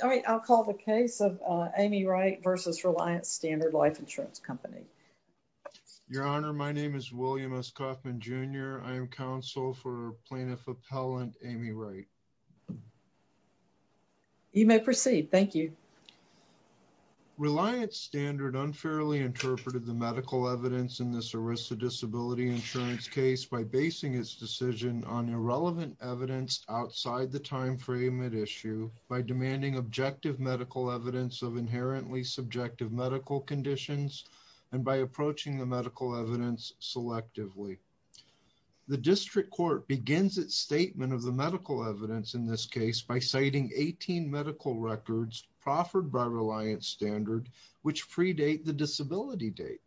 Your Honor, my name is William S. Kaufman Jr. I am counsel for Plaintiff Appellant Amy Wright. You may proceed. Thank you. Reliance Standard unfairly interpreted the medical evidence in this ERISA disability insurance case by basing its decision on irrelevant evidence outside the objective medical evidence of inherently subjective medical conditions and by approaching the medical evidence selectively. The district court begins its statement of the medical evidence in this case by citing 18 medical records proffered by Reliance Standard which predate the disability date.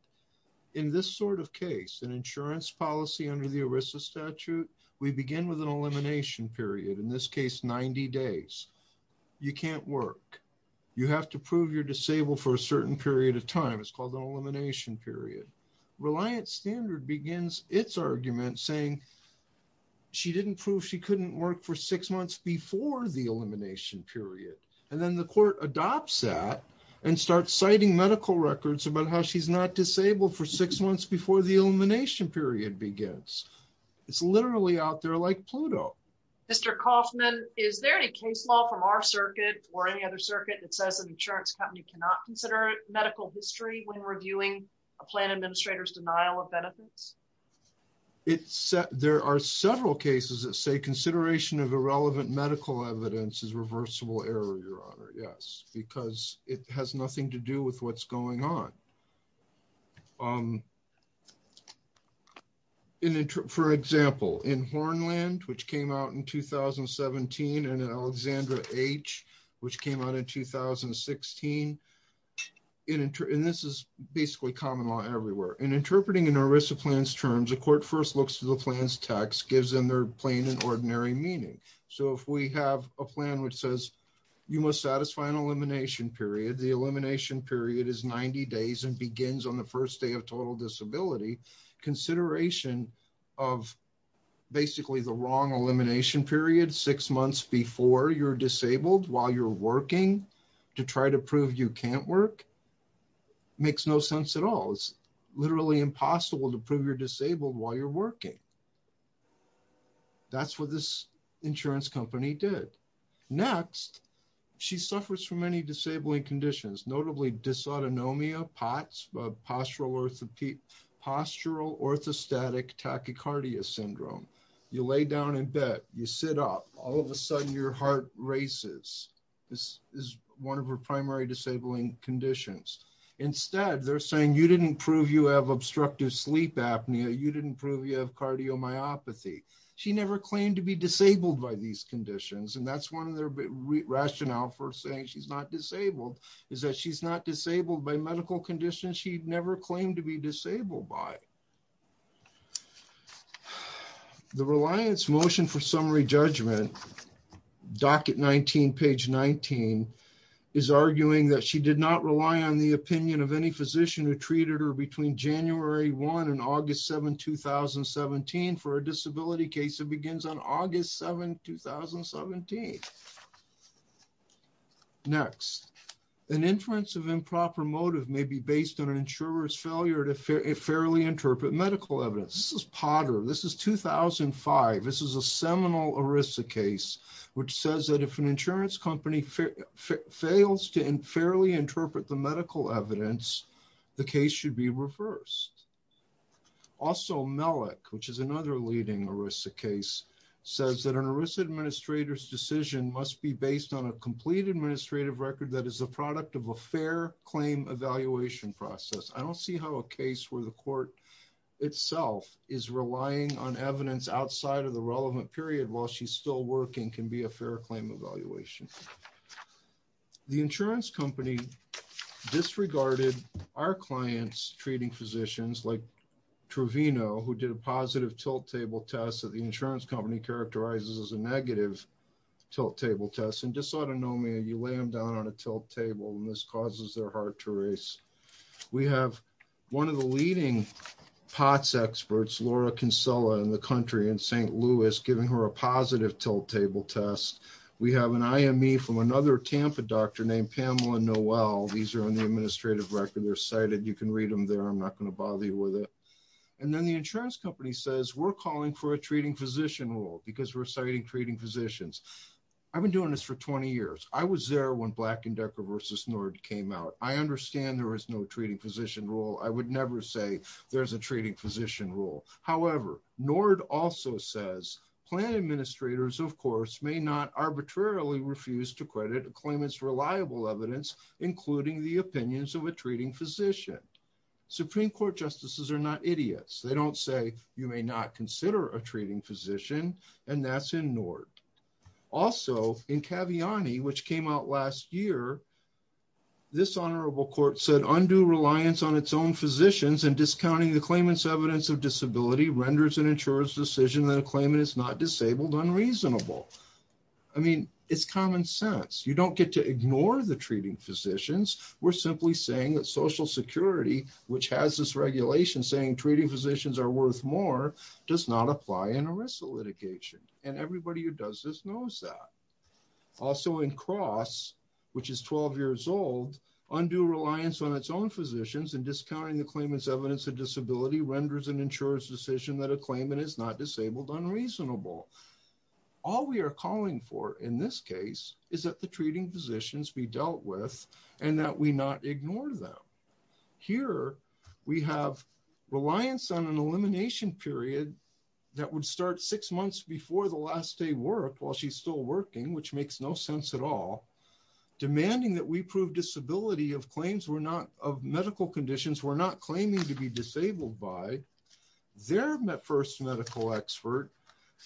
In this sort of case, an insurance policy under the ERISA statute, we begin with an elimination period, in this case 90 days. You can't work. You have to prove you're disabled for a certain period of time. It's called an elimination period. Reliance Standard begins its argument saying she didn't prove she couldn't work for six months before the elimination period and then the court adopts that and starts citing medical records about how she's not disabled for six months before the elimination period begins. It's literally out there like Pluto. Mr. Kaufman, is there any case law from our circuit or any other circuit that says an insurance company cannot consider medical history when reviewing a plan administrator's denial of benefits? There are several cases that say consideration of irrelevant medical evidence is reversible error, because it has nothing to do with what's going on. For example, in Hornland, which came out in 2017, and in Alexandra H., which came out in 2016, and this is basically common law everywhere. In interpreting an ERISA plan's terms, a court first looks to the plan's text, gives them their plain and ordinary meaning. If we have a plan which says you must satisfy an elimination period, the elimination period is 90 days and begins on the first day of total disability, consideration of basically the wrong elimination period six months before you're disabled while you're working to try to prove you can't work makes no sense at all. It's literally impossible to prove you're disabled while you're disabled. Next, she suffers from many disabling conditions, notably dysautonomia, POTS, postural orthostatic tachycardia syndrome. You lay down in bed, you sit up, all of a sudden, your heart races. This is one of her primary disabling conditions. Instead, they're saying you didn't prove you have obstructive sleep apnea, you didn't prove you have cardiomyopathy. She never claimed to be disabled by these conditions, and that's one of their rationale for saying she's not disabled, is that she's not disabled by medical conditions she never claimed to be disabled by. The reliance motion for summary judgment, docket 19, page 19, is arguing that she did not rely on the opinion of any physician who begins on August 7th, 2017. Next, an inference of improper motive may be based on an insurer's failure to fairly interpret medical evidence. This is Potter, this is 2005, this is a seminal ERISA case which says that if an insurance company fails to fairly interpret the medical evidence, the case should be reversed. Also, Mellick, which is another leading ERISA case, says that an ERISA administrator's decision must be based on a complete administrative record that is a product of a fair claim evaluation process. I don't see how a case where the court itself is relying on evidence outside of the relevant period while she's still working can be a fair claim evaluation. The insurance company disregarded our clients treating physicians, like Trovino, who did a positive tilt table test that the insurance company characterizes as a negative tilt table test. In dysautonomia, you lay them down on a tilt table and this causes their heart to race. We have one of the leading POTS experts, Laura Kinsella, in the country, in St. Louis, giving her a positive tilt table test. We have an IME from another Tampa doctor named Pamela Noel. These are on the administrative record. They're cited. You can read them there. I'm not going to bother you with it. And then the insurance company says, we're calling for a treating physician rule because we're citing treating physicians. I've been doing this for 20 years. I was there when Black & Decker v. Nord came out. I understand there is no treating physician rule. I would never say there's a treating physician rule. However, Nord also says, plan administrators, of course, may not arbitrarily refuse to credit a claimant's reliable evidence, including the opinions of a treating physician. Supreme Court justices are not idiots. They don't say you may not consider a treating physician, and that's in Nord. Also, in Caviani, which came out last year, this honorable court said undue reliance on its own physicians and discounting the claimant's evidence of disability renders an insurer's decision that a claimant is not disabled unreasonable. I mean, it's common sense. You don't get to ignore the treating physicians. We're simply saying that Social Security, which has this regulation saying treating physicians are worth more, does not apply in a RISA litigation. And everybody who does this knows that. Also in Cross, which is 12 years old, undue reliance on its own physicians and discounting the claimant's evidence of disability renders an insurer's decision that a claimant is not disabled unreasonable. All we are calling for in this case is that the treating physicians be dealt with and that we not ignore them. Here we have reliance on an elimination period that would start six months before the last day worked while she's still working, which makes no sense at all, demanding that we prove disability of medical conditions we're not claiming to be disabled by. Their first medical expert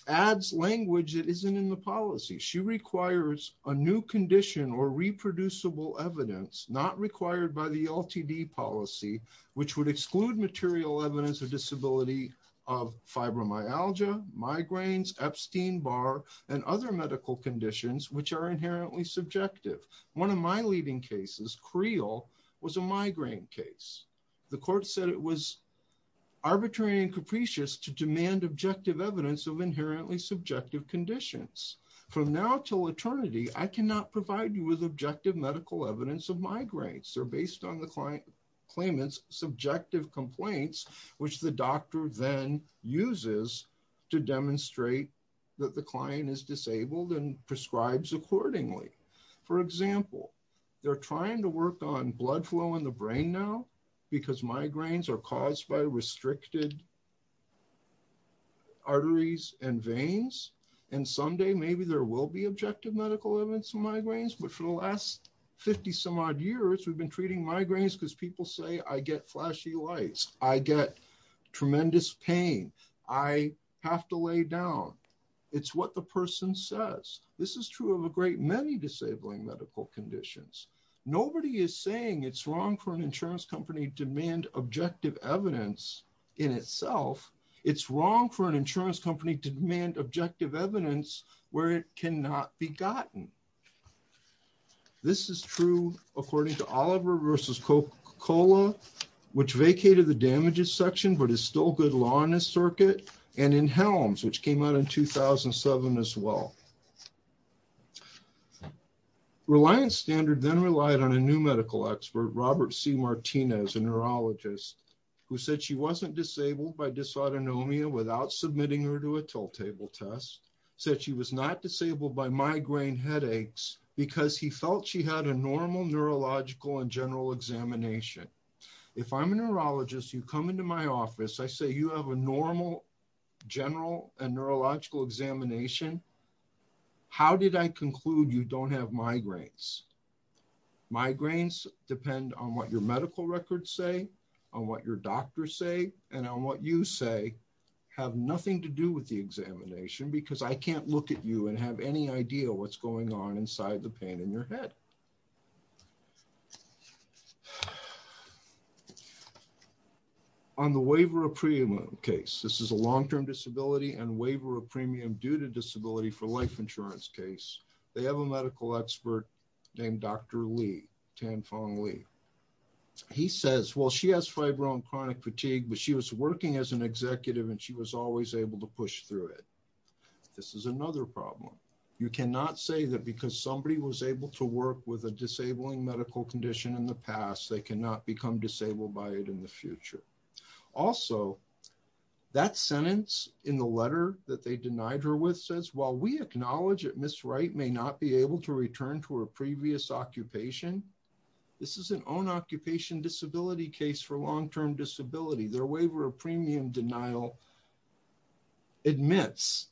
adds language that isn't in the policy. She requires a new condition or reproducible evidence not required by the LTD policy, which would exclude material evidence of disability of fibromyalgia, migraines, Epstein-Barr, and other medical conditions which are inherently subjective. One of my leading cases, Creel, was a migraine case. The court said it was arbitrary and capricious to demand objective evidence of inherently subjective conditions. From now till eternity, I cannot provide you with objective medical evidence of migraines. They're based on the claimant's subjective complaints, which the doctor then uses to demonstrate that the client is disabled and prescribes accordingly. For example, they're trying to work on blood flow in the brain now because migraines are caused by restricted arteries and veins, and someday maybe there will be objective medical evidence of migraines, but for the last 50 some odd years, we've been treating migraines because people say, I get flashy lights, I get tremendous pain, I have to lay down. It's what the person says. This is true of a great many disabling medical conditions. Nobody is saying it's wrong for an insurance company to demand objective evidence in itself. It's wrong for an insurance company to demand objective evidence where it cannot be gotten. This is true according to Oliver versus Coca-Cola, which vacated the damages section but is still good law in this circuit, and in Helms, which came out in 2007 as well. Reliance Standard then relied on a new medical expert, Robert C. Martinez, a neurologist, who said she wasn't disabled by dysautonomia without submitting her to a tilt table test, said she was not disabled by migraine headaches because he felt she had a normal neurological and general examination. If I'm a neurologist, you come into my office, I say you have a normal general and neurological examination, how did I conclude you don't have migraines? Migraines depend on what your medical records say, on what your doctors say, and on what you say have nothing to do with the examination because I can't look at you and have any idea what's going on inside the pain in your head. On the waiver of premium case, this is a long-term disability and waiver of premium due to disability for life insurance case, they have a medical expert named Dr. Lee, Tan Fong Lee. He says, well, she has fibro and chronic fatigue, but she was working as an executive and she was always able to push through it. This is another problem. You cannot say that because somebody was able to work with a disabling medical condition in the past, they cannot become disabled by it in the future. Also, that sentence in the letter that they denied her with says, while we acknowledge that Ms. Wright may not be able to return to her previous occupation, this is an own-occupation disability case for long-term disability. Their waiver of premium denial admits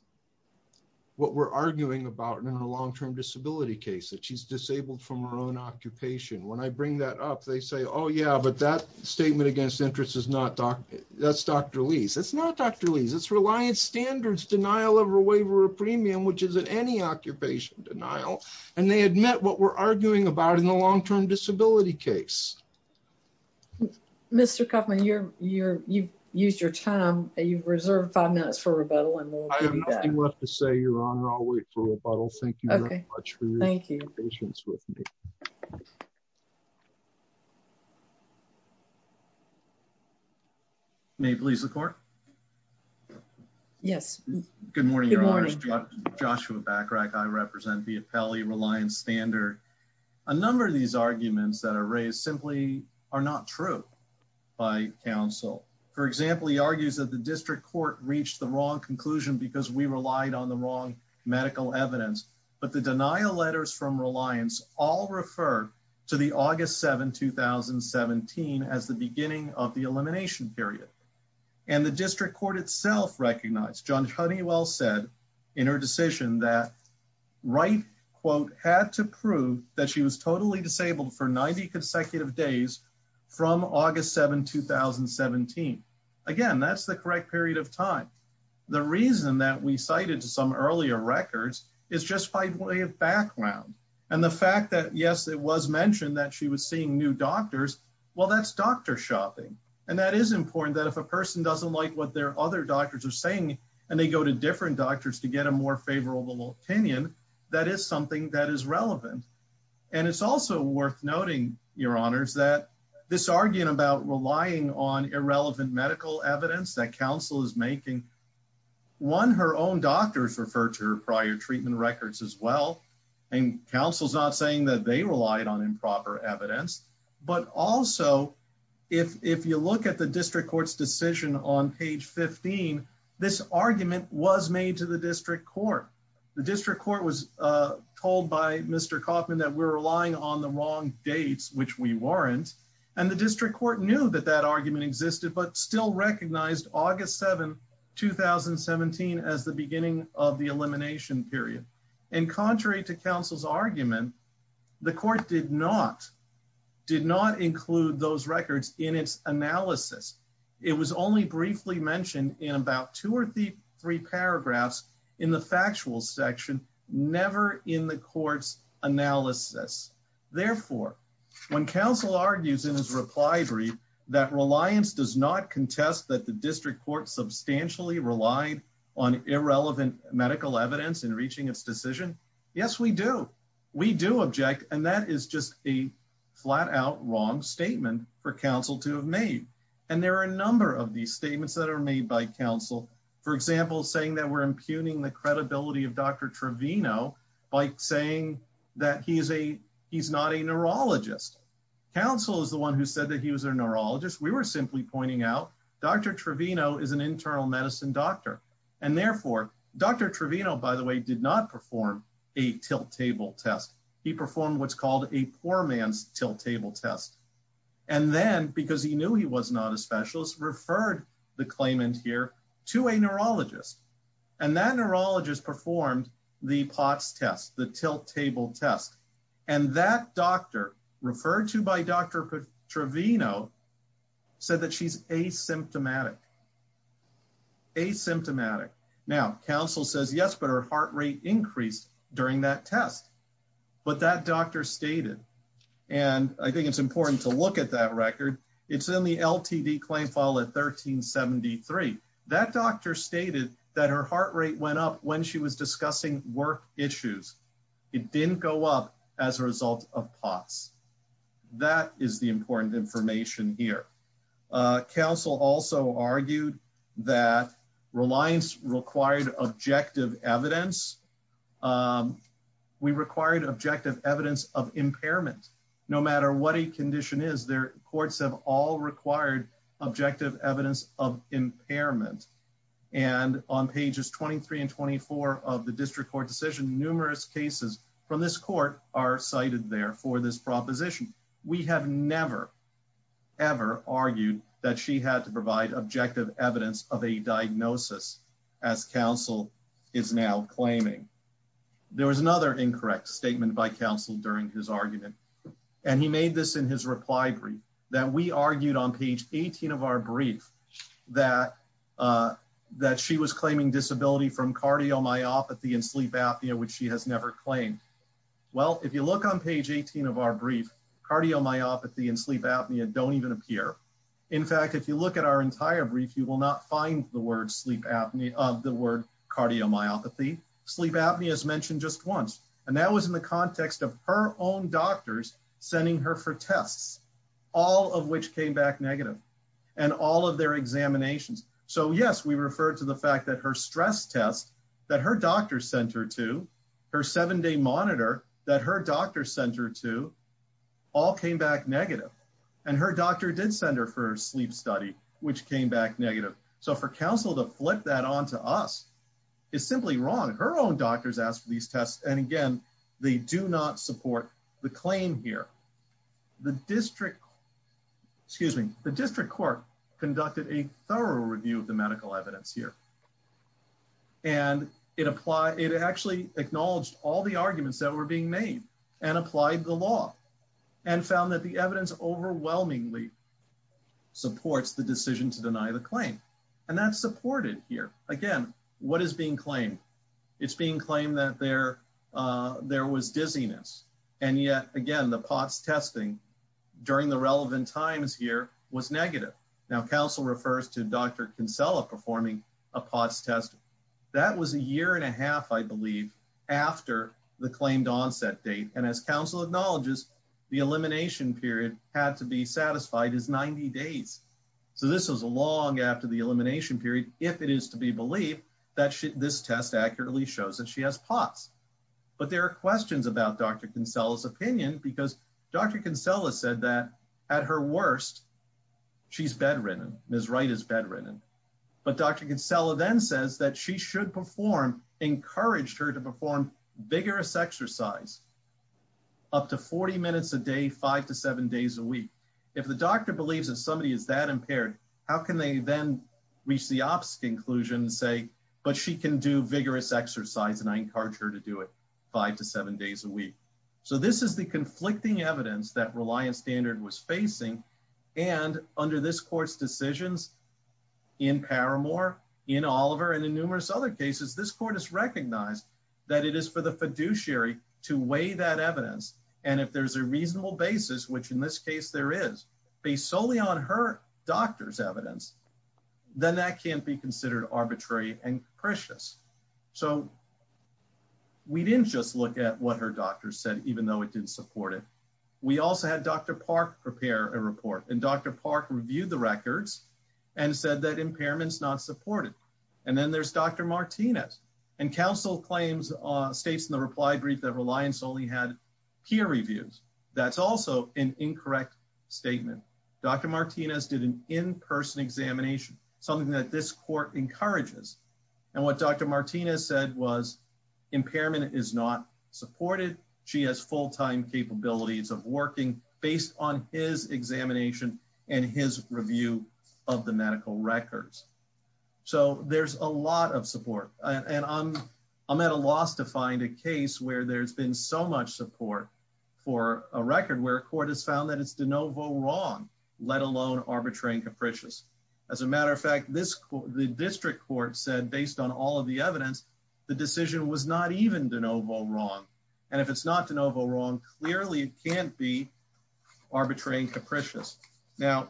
what we're arguing about in a long-term disability case, that she's disabled from her own occupation. When I bring that up, they say, oh, yeah, but that statement against interest is not Dr. Lee's. It's not Dr. Lee's. It's Reliance Standards denial of a waiver of premium, which isn't any occupation denial, and they admit what we're arguing about in the long-term disability case. Mr. Kaufman, you've used your time. You've reserved five minutes for rebuttal. I have nothing left to say, Your Honor. I'll wait for rebuttal. Thank you very much for your patience with me. May it please the Court? Yes. Good morning, Your Honors. Joshua Bachrach. I represent the Appellee Reliance Standard. A number of these arguments that are raised simply are not true by counsel. For example, he argues that the district court reached the wrong conclusion because we relied on the wrong medical evidence, but the denial letters from Reliance all refer to the August 7, 2017, as the of the elimination period, and the district court itself recognized, Judge Honeywell said in her decision that Wright, quote, had to prove that she was totally disabled for 90 consecutive days from August 7, 2017. Again, that's the correct period of time. The reason that we cited to some earlier records is just by way of background, and the fact that, yes, it was mentioned that she was seeing new doctors, well, that's doctor shopping. And that is important that if a person doesn't like what their other doctors are saying, and they go to different doctors to get a more favorable opinion, that is something that is relevant. And it's also worth noting, Your Honors, that this argument about relying on irrelevant medical evidence that counsel is making, one, her own doctors refer to her prior treatment records as well, and counsel's not saying that they relied on improper evidence. But also, if you look at the district court's decision on page 15, this argument was made to the district court. The district court was told by Mr. Kaufman that we're relying on the wrong dates, which we weren't, and the district court knew that that argument existed, but still recognized August 7, 2017, as the beginning of the elimination period. And contrary to counsel's argument, the court did not include those records in its analysis. It was only briefly mentioned in about two or three paragraphs in the factual section, never in the court's analysis. Therefore, when counsel argues in his reply brief that reliance does not contest that the district court substantially relied on irrelevant medical evidence in reaching its decision, yes, we do. We do object, and that is just a flat-out wrong statement for counsel to have made. And there are a number of these statements that are made by counsel. For example, saying that we're impugning the credibility of Dr. Trevino by saying that he's not a neurologist. Counsel is the one who said that he was a neurologist. We were simply pointing out Dr. Trevino is an internal medicine doctor, and therefore Dr. Trevino, by the way, did not perform a tilt table test. He performed what's called a poor man's tilt table test, and then, because he knew he was not a specialist, referred the claimant here to a neurologist, and that doctor, referred to by Dr. Trevino, said that she's asymptomatic. Asymptomatic. Now, counsel says, yes, but her heart rate increased during that test. But that doctor stated, and I think it's important to look at that record, it's in the LTD claim file at 1373. That doctor stated that her heart rate went up when she was discussing work issues. It didn't go up as a result of POTS. That is the important information here. Counsel also argued that reliance required objective evidence. We required objective evidence of impairment. No matter what a condition is, courts have all required objective evidence of impairment. And on pages 23 and 24 of the district court decision, numerous cases from this court are cited there for this proposition. We have never, ever argued that she had to provide objective evidence of a diagnosis, as counsel is now claiming. There was another incorrect statement by counsel during his argument, and he made this in his reply brief, that we argued on page 18 of our brief that that she was claiming disability from cardiomyopathy and sleep apnea, which she has never claimed. Well, if you look on page 18 of our brief, cardiomyopathy and sleep apnea don't even appear. In fact, if you look at our entire brief, you will not find the word sleep apnea of the word cardiomyopathy. Sleep apnea is mentioned just once. And that was in the context of her own doctors sending her for tests, all of which came back negative, and all of their examinations. So yes, we referred to the fact that her stress test that her doctor sent her to, her seven-day monitor that her doctor sent her to, all came back negative. And her doctor did send her for a sleep study, which came back negative. So for counsel to flip that onto us is simply wrong. Her own doctors asked for these tests, and again, they do not support the claim here. The district, excuse me, the district court conducted a thorough review of the medical evidence here. And it applied, it actually acknowledged all the arguments that were being made, and applied the law, and found that the evidence overwhelmingly supports the decision to deny the claim. And that's supported here. Again, what is being claimed? It's being claimed that there was dizziness. And yet, again, the POTS testing during the relevant times here was negative. Now, counsel refers to Dr. Kinsella performing a POTS test. That was a year and a half, I believe, after the claimed onset date. And as counsel acknowledges, the elimination period had to be satisfied as 90 days. So this is long after the elimination period, if it is to be believed that this test accurately shows that she has POTS. But there are questions about Dr. Kinsella's opinion, because Dr. Kinsella said that at her worst, she's bedridden. Ms. Wright is bedridden. But Dr. Kinsella then says that she should perform, encouraged her to perform vigorous exercise, up to 40 minutes a day, five to seven How can they then reach the opposite conclusion and say, but she can do vigorous exercise, and I encourage her to do it five to seven days a week. So this is the conflicting evidence that Reliance Standard was facing. And under this court's decisions, in Paramore, in Oliver, and in numerous other cases, this court has recognized that it is for the fiduciary to weigh that evidence. And if there's a reasonable basis, which in this case, there is based solely on her doctor's evidence, then that can't be considered arbitrary and precious. So we didn't just look at what her doctor said, even though it didn't support it. We also had Dr. Park prepare a report, and Dr. Park reviewed the records and said that impairment's not supported. And then there's Dr. Martinez. And counsel claims, states in the reply brief that Reliance only had peer reviews. That's also an incorrect statement. Dr. Martinez did an in-person examination, something that this court encourages. And what Dr. Martinez said was, impairment is not supported. She has full-time capabilities of working based on his examination and his review of the medical records. So there's a lot of support. And I'm at a loss to find a case where there's been so much support for a record where a court has found that it's de novo wrong, let alone arbitrary and capricious. As a matter of fact, the district court said, based on all of the evidence, the decision was not even de novo wrong. And if it's not de novo wrong, clearly it can't be arbitrary and capricious. Now,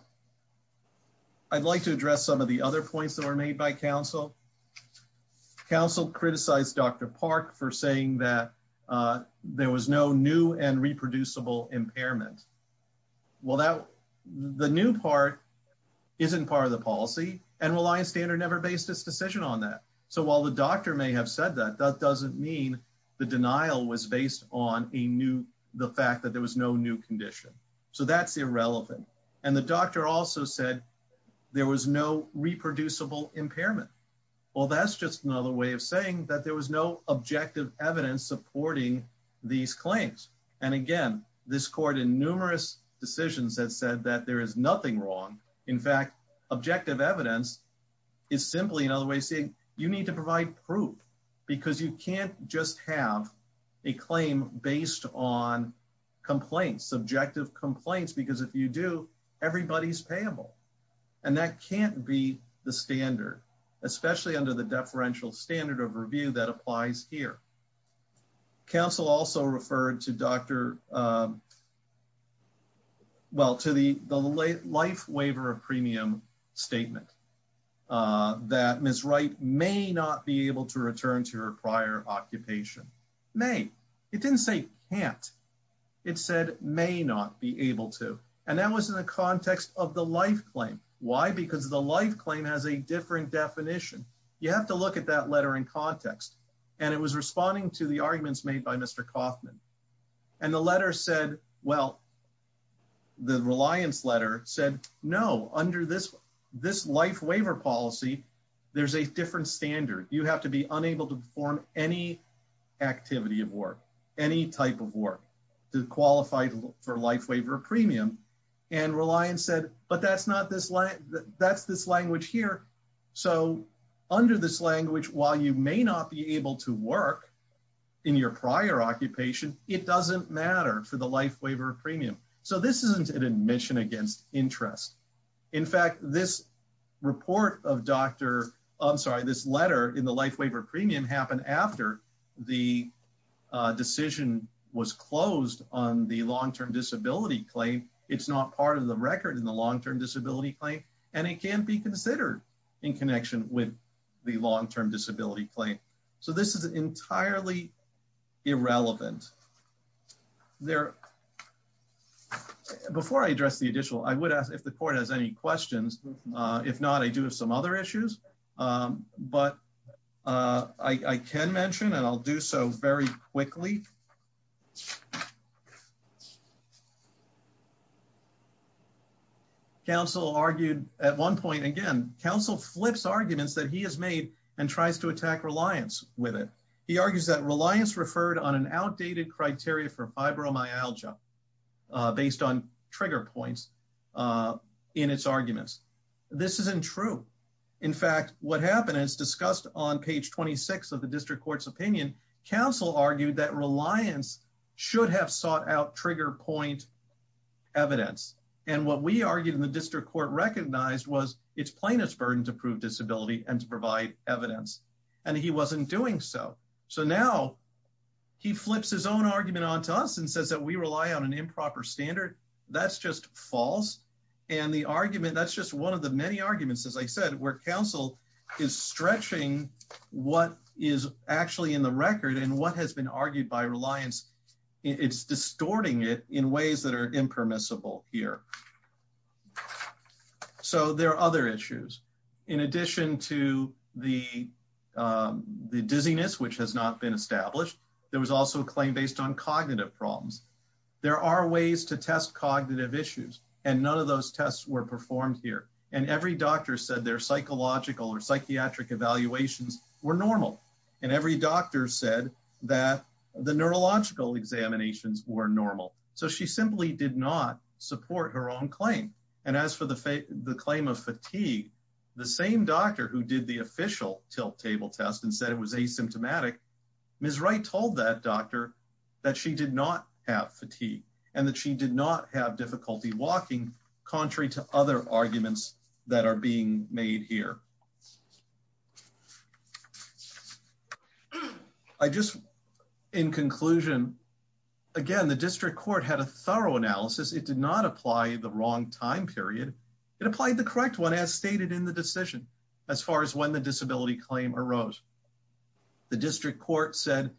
I'd like to address some of the other points that were made by counsel. Counsel criticized Dr. Park for saying that there was no new and reproducible impairment. Well, the new part isn't part of the policy, and Reliance Standard never based its decision on that. So while the doctor may have said that, that doesn't mean the denial was based on the fact that there was no new condition. So that's irrelevant. And the doctor also said there was no reproducible impairment. Well, that's just another way of saying that there was no objective evidence supporting these claims. And again, this court in numerous decisions that said that there is nothing wrong. In fact, objective evidence is simply another way of saying you need to provide proof because you can't just have a claim based on complaints, subjective complaints, because if you do, everybody's payable. And that can't be the standard, especially under the deferential standard of review that applies here. Counsel also referred to the life waiver of premium statement that Ms. Wright may not be able to return to her prior occupation. May. It didn't say can't. It said may not be able to. And that was in the context of the life claim. Why? Because the life claim has a different definition. You have to look at that letter in context. And it was responding to the arguments made by Mr. Kaufman. And the letter said, well, the Reliance letter said, no, under this life waiver policy, there's a different standard. You have to be unable to perform any activity of work, any type of work to qualify for life waiver premium. And Reliance said, but that's not this. That's this language here. So under this language, while you may not be able to work in your prior occupation, it doesn't matter for the life waiver premium. So this isn't an admission against interest. In fact, this report of Dr. I'm the life waiver premium happened after the decision was closed on the long-term disability claim. It's not part of the record in the long-term disability claim, and it can't be considered in connection with the long-term disability claim. So this is entirely irrelevant. Before I address the additional, I would ask if the court has any questions. If not, I do have some other issues, but I can mention, and I'll do so very quickly. Counsel argued at one point, again, counsel flips arguments that he has made and tries to attack Reliance with it. He argues that Reliance referred on an outdated criteria for fibromyalgia based on trigger points in its arguments. This isn't true. In fact, what happened is discussed on page 26 of the district court's opinion, counsel argued that Reliance should have sought out trigger point evidence. And what we argued in the district court recognized was it's plaintiff's burden to prove disability and to provide evidence, and he wasn't doing so. So now he flips his own argument onto us and says that we rely on an improper standard. That's just false. And the argument, that's just one of the many arguments, as I said, where counsel is stretching what is actually in the record and what has been argued by Reliance. It's distorting it in ways that are impermissible here. So there are other issues. In addition to the dizziness, which has not been established, there was also a claim based on cognitive problems. There are ways to test cognitive issues, and none of those tests were performed here. And every doctor said their psychological or psychiatric evaluations were normal. And every doctor said that the neurological examinations were normal. So she simply did not support her own claim. And as for the claim of fatigue, the same doctor who did the official tilt table test and said it was asymptomatic, Ms. Wright told that doctor that she did not have fatigue and that she did not have difficulty walking, contrary to other arguments that are being made here. I just, in conclusion, again, the district court had a thorough analysis. It did not apply the wrong time period. It applied the correct one as stated in the decision, as far as when the disability claim arose. The district court said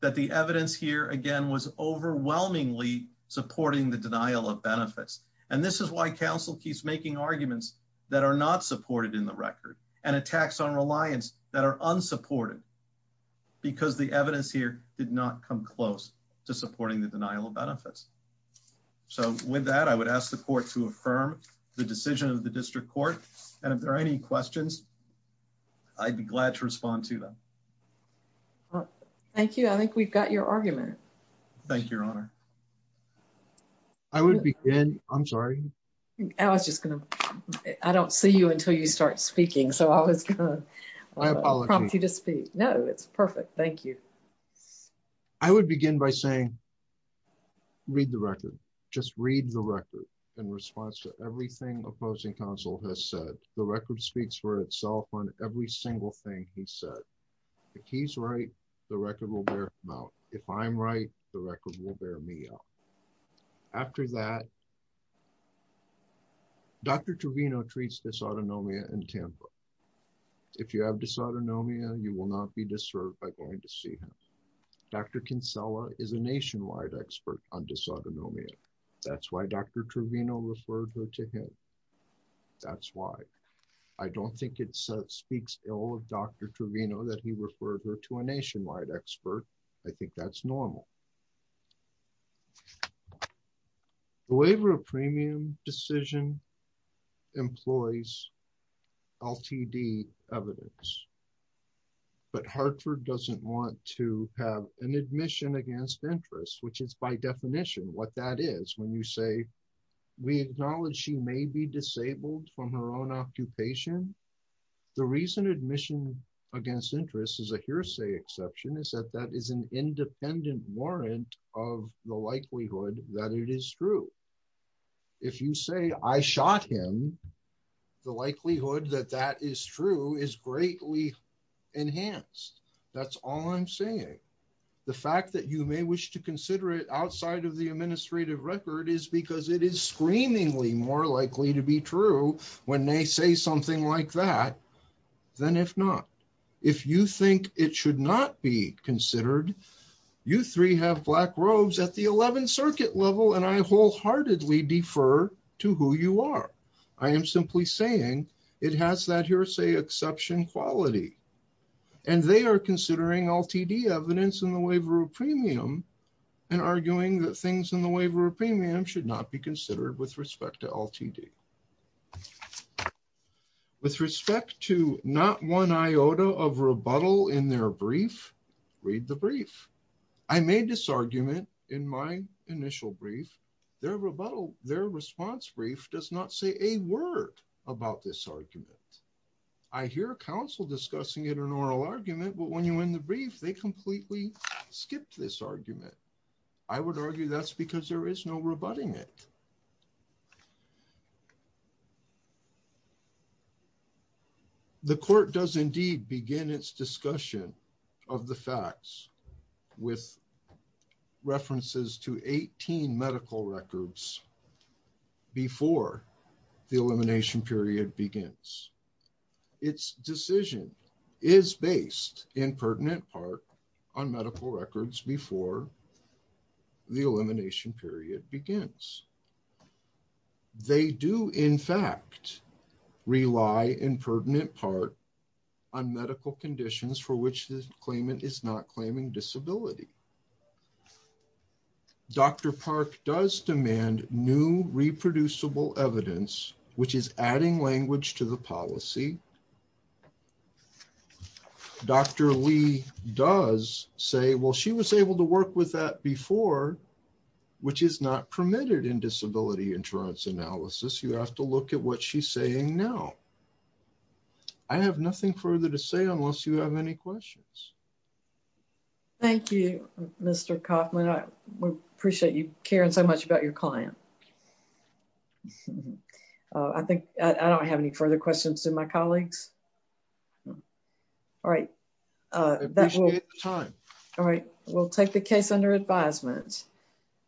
that the evidence here, again, was overwhelmingly supporting the denial of benefits. And this is why counsel keeps making arguments that are not supported in the record and attacks on reliance that are unsupported, because the evidence here did not come close to supporting the denial of benefits. So with that, I would ask the court to affirm the decision of the district court. And if there are any questions, I'd be glad to respond to them. Thank you. I think we've got your argument. Thank you, Your Honor. I would begin. I'm sorry. I was just going to, I don't see you until you start speaking. So I was going to prompt you to speak. No, it's perfect. Thank you. I would begin by saying, read the record. Just read the record in response to everything opposing counsel has said. The record speaks for itself on every single thing he said. If he's right, the record will bear him out. If I'm right, the record will bear me out. After that, Dr. Trevino treats dysautonomia in Tampa. If you have dysautonomia, you will not be disturbed by going to see him. Dr. Kinsella is a nationwide expert on dysautonomia. That's why Dr. Trevino referred her to him. That's why. I don't think it speaks ill of Dr. Trevino that he referred her to a nationwide expert. I think that's normal. The waiver of premium decision employs LTD evidence, but Hartford doesn't want to have an admission against interest, which is by definition what that is. When you say, we acknowledge she may be disabled from her own occupation. The reason admission against interest is a hearsay exception is that that is an independent warrant of the likelihood that it is true. If you say I shot him, the likelihood that that is true is greatly enhanced. That's all I'm saying. The fact that you may wish to consider it outside of the administrative record is because it is more likely to be true when they say something like that than if not. If you think it should not be considered, you three have black robes at the 11th circuit level, and I wholeheartedly defer to who you are. I am simply saying it has that hearsay exception quality, and they are considering LTD evidence in the waiver of premium and arguing that things in premium should not be considered with respect to LTD. With respect to not one iota of rebuttal in their brief, read the brief. I made this argument in my initial brief. Their response brief does not say a word about this argument. I hear counsel discussing it in an oral argument, but when you're in the brief, they completely skipped this argument. I would argue that's because there is no rebutting it. The court does indeed begin its discussion of the facts with references to 18 medical records before the elimination period begins. Its decision is based in pertinent part on medical records before the elimination period begins. They do, in fact, rely in pertinent part on medical conditions for which the claimant is not claiming disability. Dr. Park does demand new reproducible evidence, which is adding language to the policy. Dr. Lee does say, well, she was able to work with that before, which is not permitted in disability insurance analysis. You have to look at what she's saying now. I have nothing further to say unless you have any questions. Thank you, Mr. Kaufman. I appreciate you caring so much about your client. I think I don't have any further questions to my colleagues. All right. We'll take the case under advisement.